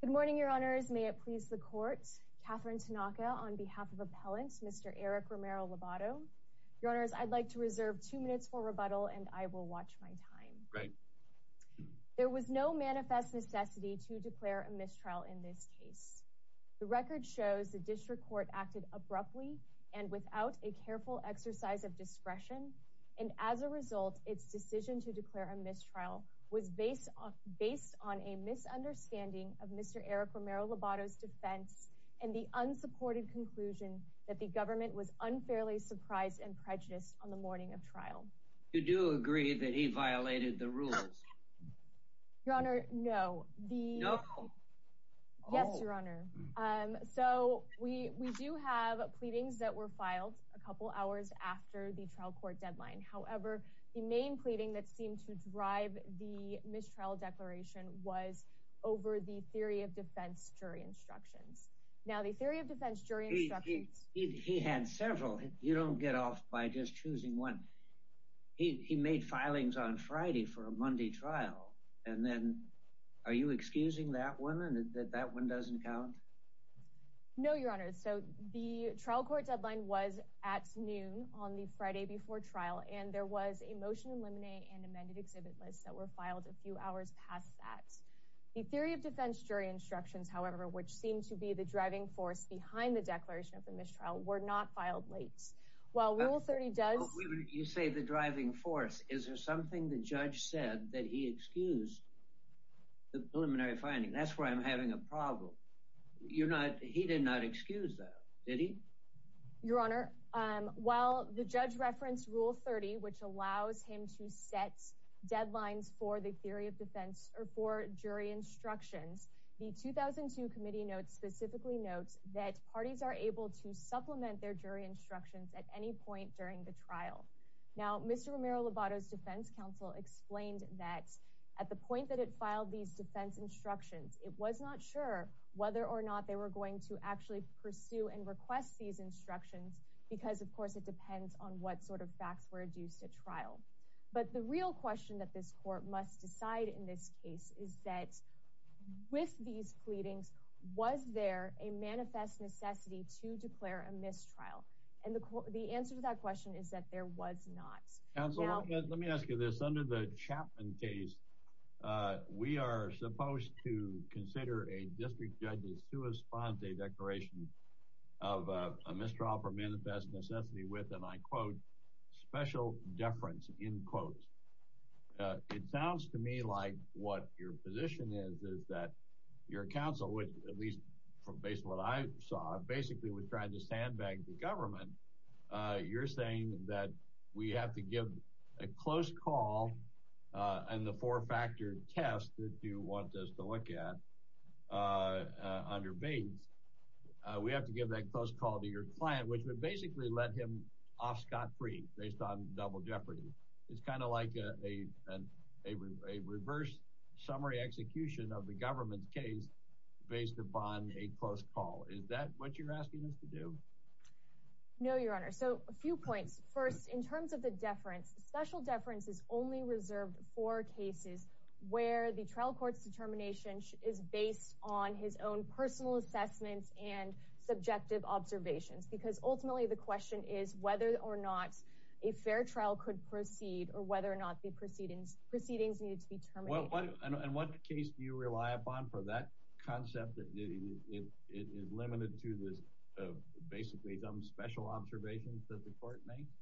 Good morning, your honors. May it please the court, Katherine Tanaka on behalf of appellants, Mr. Eric Romero-Lobato. Your honors, I'd like to reserve two minutes for rebuttal and I will watch my time. There was no manifest necessity to declare a mistrial in this case. The record shows the district court acted abruptly and without a careful exercise of discretion and as a result its decision to declare a mistrial was based on a misunderstanding of Mr. Eric Romero-Lobato's defense and the unsupported conclusion that the government was unfairly surprised and prejudiced on the morning of trial. You do agree that he violated the rules? Your honor, no. Yes, your honor. So we do have pleadings that were filed a couple hours after the trial court deadline. However, the main pleading that seemed to drive the mistrial declaration was over the theory of defense jury instructions. Now the theory of defense jury instructions... He had several. You don't get off by just choosing one. He made filings on Friday for a Monday trial and then are you excusing that one and that that one doesn't count? No, your honor. So the trial court deadline was at noon on the motion in limine and amended exhibit lists that were filed a few hours past that. The theory of defense jury instructions, however, which seemed to be the driving force behind the declaration of the mistrial were not filed late. While Rule 30 does... You say the driving force. Is there something the judge said that he excused the preliminary finding? That's where I'm having a problem. You're not... He did not excuse that, did he? Your honor, while the judge referenced Rule 30, which allows him to set deadlines for the theory of defense or for jury instructions, the 2002 committee notes specifically notes that parties are able to supplement their jury instructions at any point during the trial. Now, Mr. Romero-Lobato's defense counsel explained that at the point that it filed these defense instructions, it was not sure whether or not they were going to actually pursue and request these instructions because, of course, it was not sure whether or not the facts were adduced at trial. But the real question that this court must decide in this case is that with these pleadings, was there a manifest necessity to declare a mistrial? And the answer to that question is that there was not. Counsel, let me ask you this. Under the Chapman case, we are supposed to consider a district judge's sua sponte declaration of a mistrial for manifest necessity with, and I quote, special deference, end quote. It sounds to me like what your position is is that your counsel, at least based on what I saw, basically was trying to sandbag the government. You're saying that we have to give a close call and the four-factor test that you want us to look at under Bates, we have to give that close call to your client, which would basically let him off scot-free based on double jeopardy. It's kind of like a reverse summary execution of the government's case based upon a close call. Is that what you're asking us to do? No, Your Honor. So, a few points. First, in terms of the deference, special deference is only reserved for cases where the trial court's determination is based on his own personal assessments and subjective observations. Because ultimately, the question is whether or not a fair trial could proceed or whether or not the proceedings needed to be terminated. And what case do you rely upon for that concept that is limited to basically some special observations that the court makes?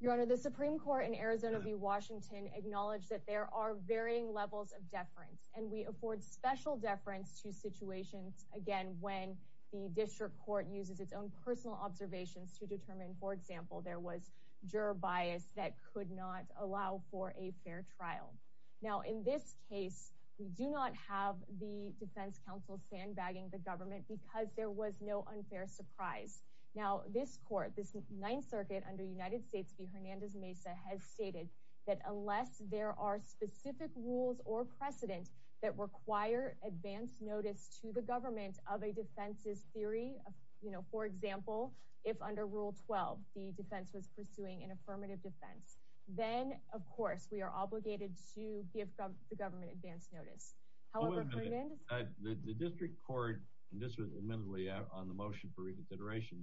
Your Honor, the Supreme Court in Arizona v. Washington acknowledged that there are varying levels of deference and we afford special deference to situations, again, when the district court uses its own personal observations to determine, for example, there was juror bias that could not allow for a fair trial. Now, in this case, we do not have the defense counsel sandbagging the government because there was no unfair surprise. Now, this court, this Ninth Circuit under United States v. Hernandez Mesa has stated that unless there are specific rules or precedent that require advance notice to the government of a defense's theory, you know, for example, if under Rule 12, the defense was pursuing an affirmative defense, then, of course, we are obligated to give the government advance notice. However, the district court, and this was admittedly on the motion for reconsideration,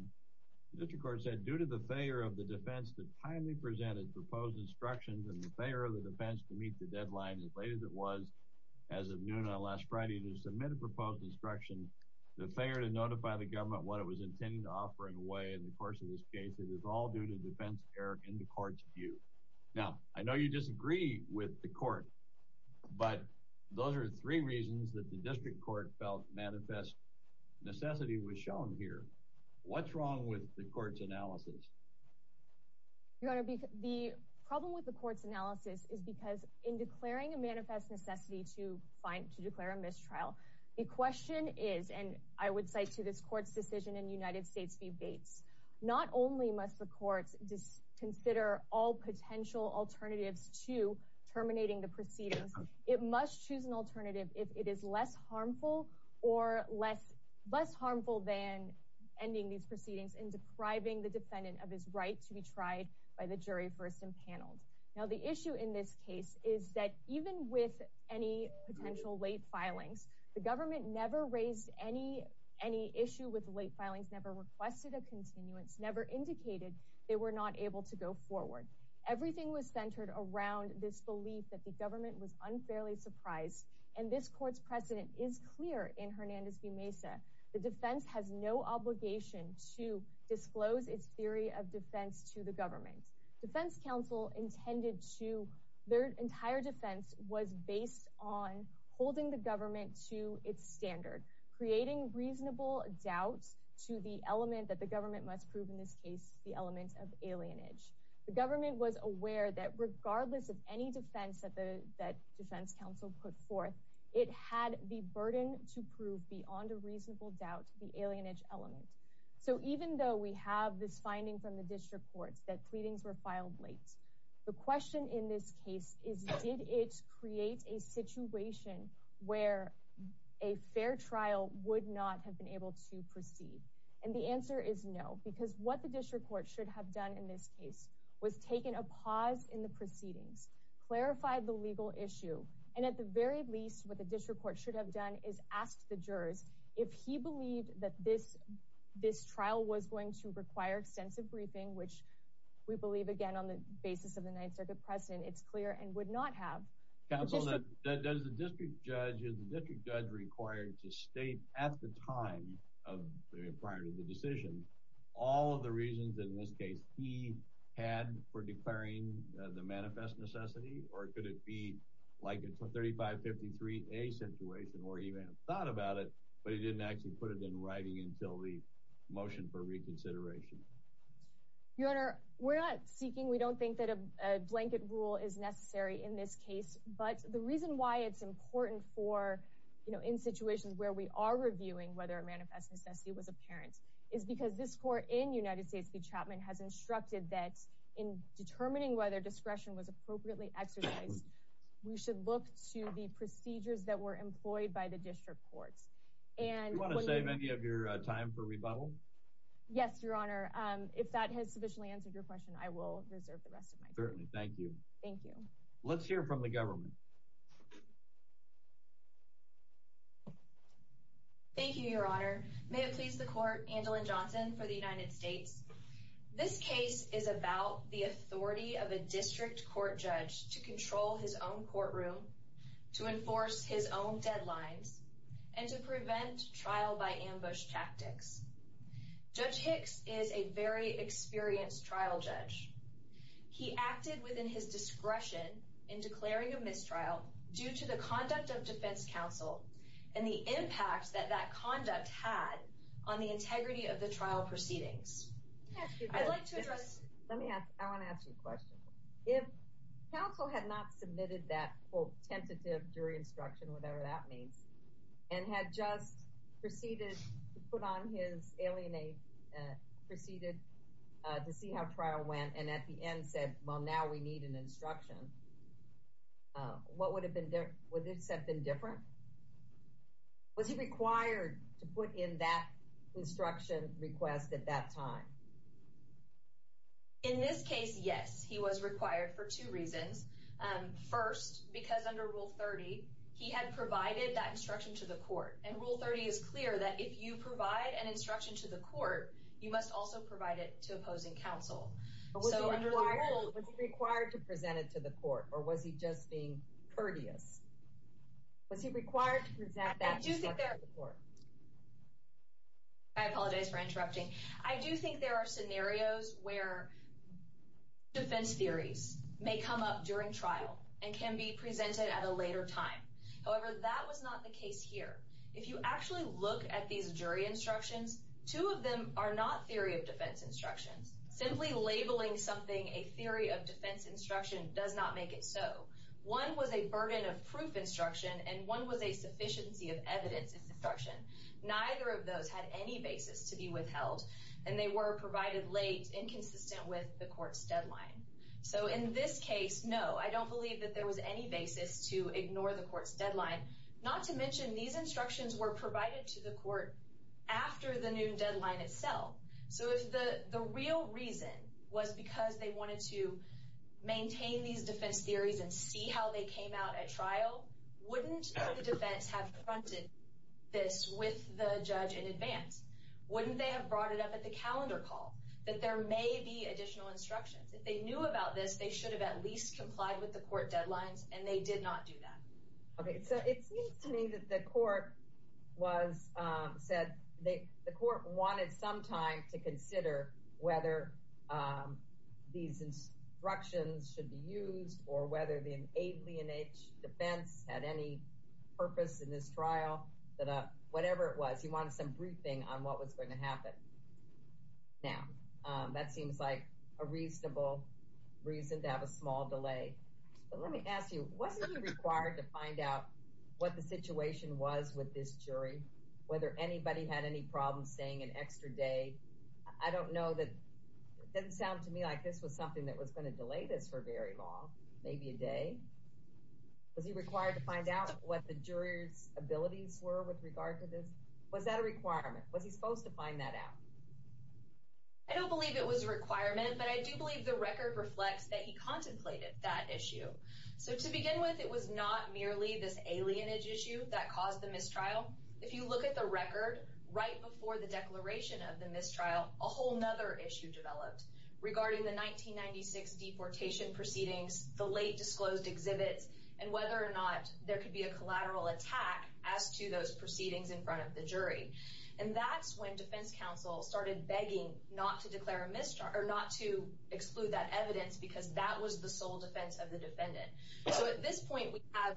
the district court said, due to the failure of the defense to timely present its proposed instructions and the failure of the defense to meet the deadline as late as it was as of noon on last Friday to submit a proposed instruction, the failure to notify the government what it was intended to offer in a way in the course of this case, it is all due to defense error in the court's view. Now, I know you disagree with the court, but those are the three reasons that the manifest necessity was shown here. What's wrong with the court's analysis? Your Honor, the problem with the court's analysis is because in declaring a manifest necessity to find, to declare a mistrial, the question is, and I would cite to this court's decision in United States v. Bates, not only must the courts consider all potential alternatives to terminating the proceedings, it must choose an alternative if it is less harmful than ending these proceedings in depriving the defendant of his right to be tried by the jury first and paneled. Now, the issue in this case is that even with any potential late filings, the government never raised any issue with late filings, never requested a continuance, never indicated they were not able to go forward. Everything was centered around this belief that the government was and this court's precedent is clear in Hernandez v. Mesa. The defense has no obligation to disclose its theory of defense to the government. Defense Council intended to, their entire defense was based on holding the government to its standard, creating reasonable doubt to the element that the government must prove in this case, the element of alienage. The government was aware that defense council put forth. It had the burden to prove beyond a reasonable doubt the alienage element. So even though we have this finding from the district courts that pleadings were filed late, the question in this case is did it create a situation where a fair trial would not have been able to proceed? And the answer is no, because what the district court should have done in this case was taken a pause in the proceedings, clarified the legal issue. And at the very least, what the district court should have done is ask the jurors if he believed that this, this trial was going to require extensive briefing, which we believe, again, on the basis of the Ninth Circuit precedent, it's clear and would not have. Counsel, does the district judge, is the district judge required to state at the time of the prior to the decision, all of the reasons in this case he had for like a 3553A situation or even thought about it, but he didn't actually put it in writing until the motion for reconsideration? Your Honor, we're not seeking, we don't think that a blanket rule is necessary in this case. But the reason why it's important for, you know, in situations where we are reviewing whether a manifest necessity was apparent is because this court in United States v. Chapman has instructed that in this case, we should look to the procedures that were employed by the district courts. And you want to save any of your time for rebuttal? Yes, Your Honor. If that has sufficiently answered your question, I will reserve the rest of my time. Certainly. Thank you. Thank you. Let's hear from the government. Thank you, Your Honor. May it please the court, Angela Johnson for the United States. This case is about the authority of a district court judge to control his own courtroom, to enforce his own deadlines, and to prevent trial by ambush tactics. Judge Hicks is a very experienced trial judge. He acted within his discretion in declaring a mistrial due to the conduct of defense counsel and the impact that that conduct had on the integrity of the trial proceedings. I'd like to ask, if counsel had not submitted that quote, tentative jury instruction, whatever that means, and had just proceeded to put on his alienate, proceeded to see how trial went, and at the end said, well, now we need an instruction. What would have been different? Would this have been different? Was he required to put in that instruction request at that time? In this case, yes, he was required for two reasons. First, because under Rule 30, he had provided that instruction to the court. And Rule 30 is clear that if you provide an instruction to the court, you must also provide it to opposing counsel. So was he required to present it to the court? Or was he just being courteous? Was he required to present that instruction to the court? I do think there are scenarios where defense theories may come up during trial and can be presented at a later time. However, that was not the case here. If you actually look at these jury instructions, two of them are not theory of defense instructions. Simply labeling something a theory of defense instruction does not make it so. One was a burden of proof instruction, and one was a sufficiency of evidence instruction. Neither of those had any basis to be withheld, and they were provided late, inconsistent with the court's deadline. So in this case, no, I don't believe that there was any basis to ignore the court's deadline. Not to mention, these instructions were provided to the court after the noon deadline itself. So if the real reason was because they wanted to maintain these defense theories and see how they came out at trial, wouldn't the defense have confronted this with the judge in wouldn't they have brought it up at the calendar call? That there may be additional instructions. If they knew about this, they should have at least complied with the court deadlines, and they did not do that. Okay, so it seems to me that the court was said they the court wanted some time to consider whether these instructions should be used, or whether the alien age defense had any purpose in this trial. Whatever it was, he wanted some briefing on what was going to happen. Now, that seems like a reasonable reason to have a small delay. But let me ask you, wasn't he required to find out what the situation was with this jury? Whether anybody had any problems saying an extra day? I don't know that it doesn't sound to me like this was something that was going to delay this for very long, maybe a day. Was he required to find out what the jurors abilities were with regard to this? Was that a requirement? Was he supposed to find that out? I don't believe it was a requirement, but I do believe the record reflects that he contemplated that issue. So to begin with, it was not merely this alien age issue that caused the mistrial. If you look at the record, right before the declaration of the mistrial, a whole other issue developed regarding the 1996 deportation proceedings, the late disclosed exhibits, and whether or not there could be a collateral attack as to those proceedings in front of the jury. And that's when defense counsel started begging not to declare a mischarge, or not to exclude that evidence, because that was the sole defense of the defendant. So at this point, we have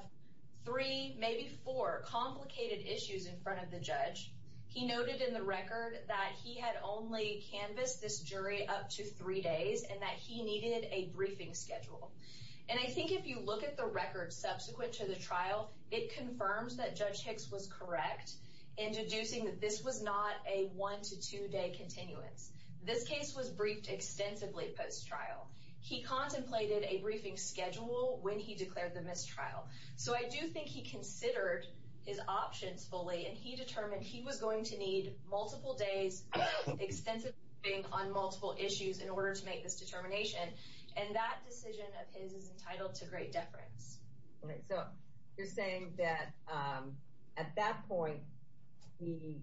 three, maybe four, complicated issues in front of the judge. He noted in the record that he had only canvassed this jury up to three days, and that he needed a briefing schedule. And I think if you look at the record subsequent to the correct, introducing that this was not a one to two day continuance. This case was briefed extensively post-trial. He contemplated a briefing schedule when he declared the mistrial. So I do think he considered his options fully, and he determined he was going to need multiple days, extensively on multiple issues, in order to make this determination. And that decision of his is entitled to great deference. So you're saying that at that point, he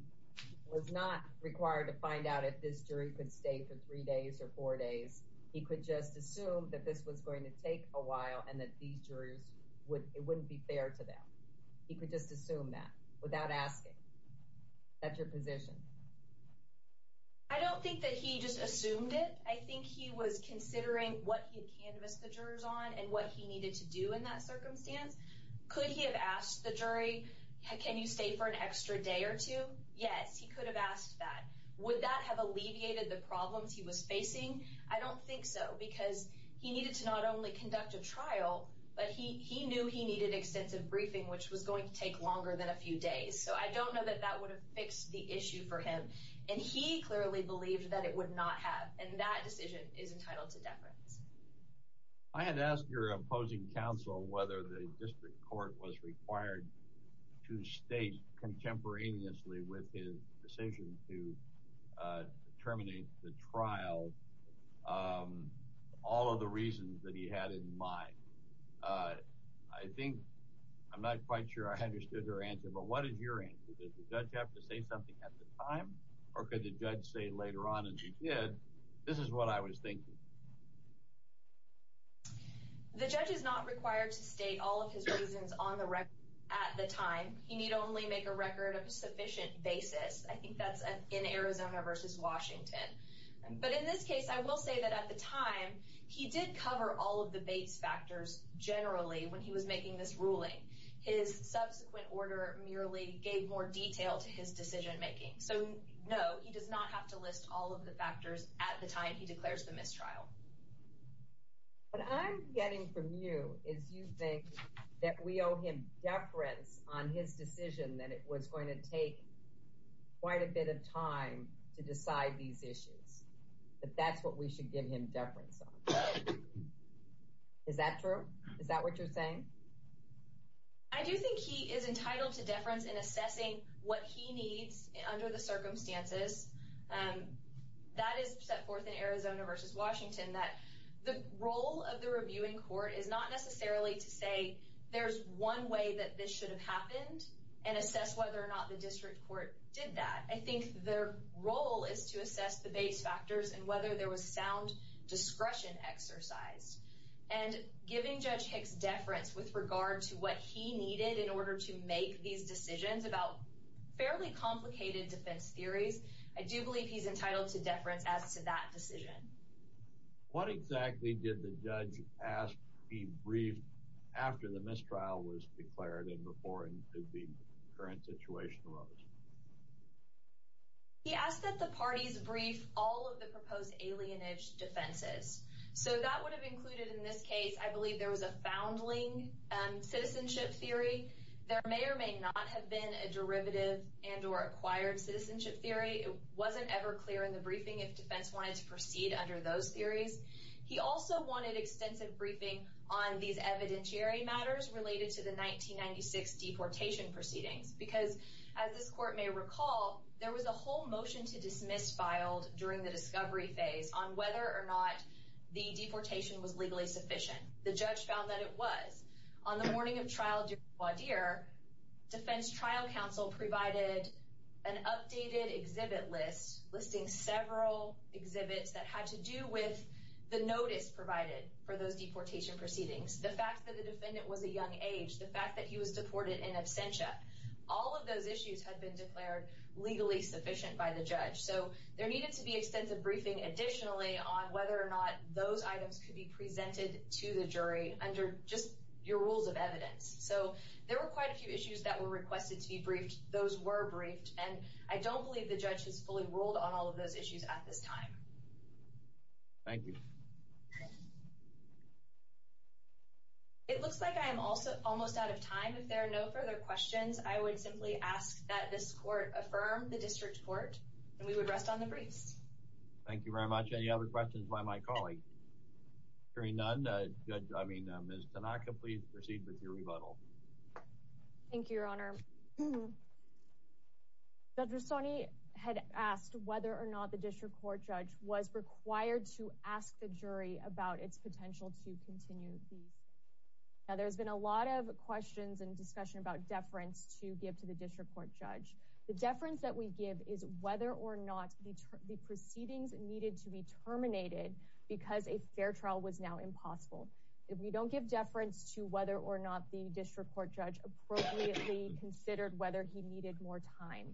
was not required to find out if this jury could stay for three days or four days. He could just assume that this was going to take a while, and that these jurors, it wouldn't be fair to them. He could just assume that, without asking. Is that your position? I don't think that he just assumed it. I think he was considering what he had canvassed the jurors on, and what he needed to do in that circumstance. Could he have asked the jury, can you stay for an extra day or two? Yes, he could have asked that. Would that have alleviated the problems he was facing? I don't think so, because he needed to not only conduct a trial, but he knew he needed extensive briefing, which was going to take longer than a few days. So I don't know that that would have fixed the issue for him. And he clearly believed that it would not have. And that decision is entitled to deference. I had asked your opposing counsel whether the district court was required to state contemporaneously with his decision to terminate the trial all of the reasons that he had in mind. I think, I'm not quite sure I understood your answer, but what is your answer? Did the judge have to say something at the time, or could the judge say later on as he did, this is what I was thinking? The judge is not required to state all of his reasons on the record at the time. He need only make a record of a sufficient basis. I think that's in Arizona versus Washington. But in this case, I will say that at the time, he did cover all of the base factors generally when he was making this ruling. His subsequent order merely gave more detail to his decision making. So no, he does not have to list all of the factors at the time he declares the mistrial. What I'm getting from you is you think that we owe him deference on his decision that it was going to take quite a bit of time to decide these issues. That that's what we should give him deference on. Is that true? Is that what you're saying? I do think he is entitled to deference in assessing what he needs under the circumstances. That is set forth in Arizona versus Washington, that the role of the reviewing court is not necessarily to say there's one way that this should have happened and assess whether or not the district court did that. I think their role is to assess the base factors and whether there was sound discretion exercised. And giving Judge Hicks deference with regard to what he needed in order to make these decisions about fairly complicated defense theories, I do believe he's entitled to deference as to that decision. What exactly did the judge ask be briefed after the mistrial was declared and before the current situation arose? He asked that the parties brief all of the proposed alienage defenses. So that would have included, in this case, I believe there was a foundling citizenship theory. There may or may not have been a derivative and or acquired citizenship theory. It wasn't ever clear in the briefing if defense wanted to proceed under those theories. He also wanted extensive briefing on these evidentiary matters related to the 1996 deportation proceedings. Because, as this court may recall, there was a whole motion to dismiss filed during the discovery phase on whether or not the deportation was legally sufficient. The judge found that it was. On the morning of trial, defense trial counsel provided an updated exhibit list listing several exhibits that had to do with the notice provided for those deportation proceedings. The fact that the defendant was a young age. The fact that he was deported in absentia. All of those issues have been declared legally sufficient by the judge. So there needed to be extensive briefing additionally on whether or not those items could be presented to the jury under just your rules of evidence. So there were quite a few issues that were requested to be briefed. Those were briefed, and I don't believe the judge is fully ruled on all of those issues at this time. Thank you. It looks like I'm also almost out of time. If there are no further questions, I would simply ask that this court affirm the district court and we would rest on the briefs. Thank you very much. Any other questions by my colleague? Hearing none. Good. I mean, Miss Tanaka, please proceed with your rebuttal. Thank you, Your Honor. Dr. Sony had asked whether or not the district court judge was required to ask the jury about its potential to continue. Now, there's been a lot of questions and discussion about deference to give to the district court judge. The deference that we give is whether or not the proceedings needed to be terminated because a fair trial was now impossible. We don't give deference to whether or not the district court judge appropriately considered whether he needed more time.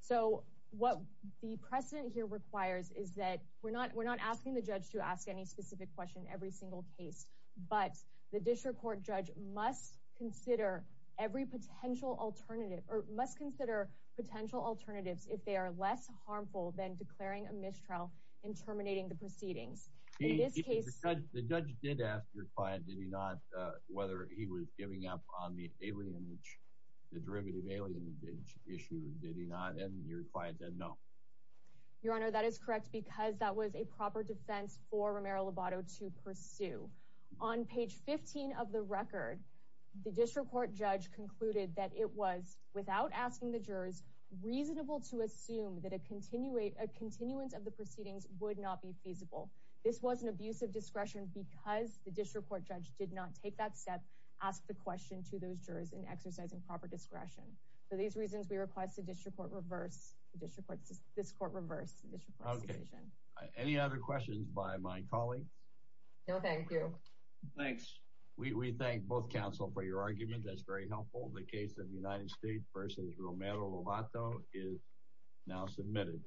So what the precedent here requires is that we're not asking the judge to ask any specific question every single case, but the district court judge must consider every potential alternative or must consider potential alternatives if they are less harmful than declaring a mistrial and terminating the proceedings. The judge did ask your client, did he not, whether he was giving up on the derivative alienage issue, did he not? And your client said no. Your Honor, that is correct because that was a proper defense for Romero-Lobato to pursue. On page 15 of the record, the district court judge concluded that it was, without asking the jurors, reasonable to assume that a continuance of the proceedings would not be feasible. This was an abuse of discretion because the district court judge did not take that step, ask the question to those jurors in exercising proper discretion. For these reasons, we request the district court reverse the district court's decision. Any other questions by my colleagues? No, thank you. Thanks. We thank both counsel for your argument. That's very helpful. The case of United States v. Romero-Lobato is now submitted.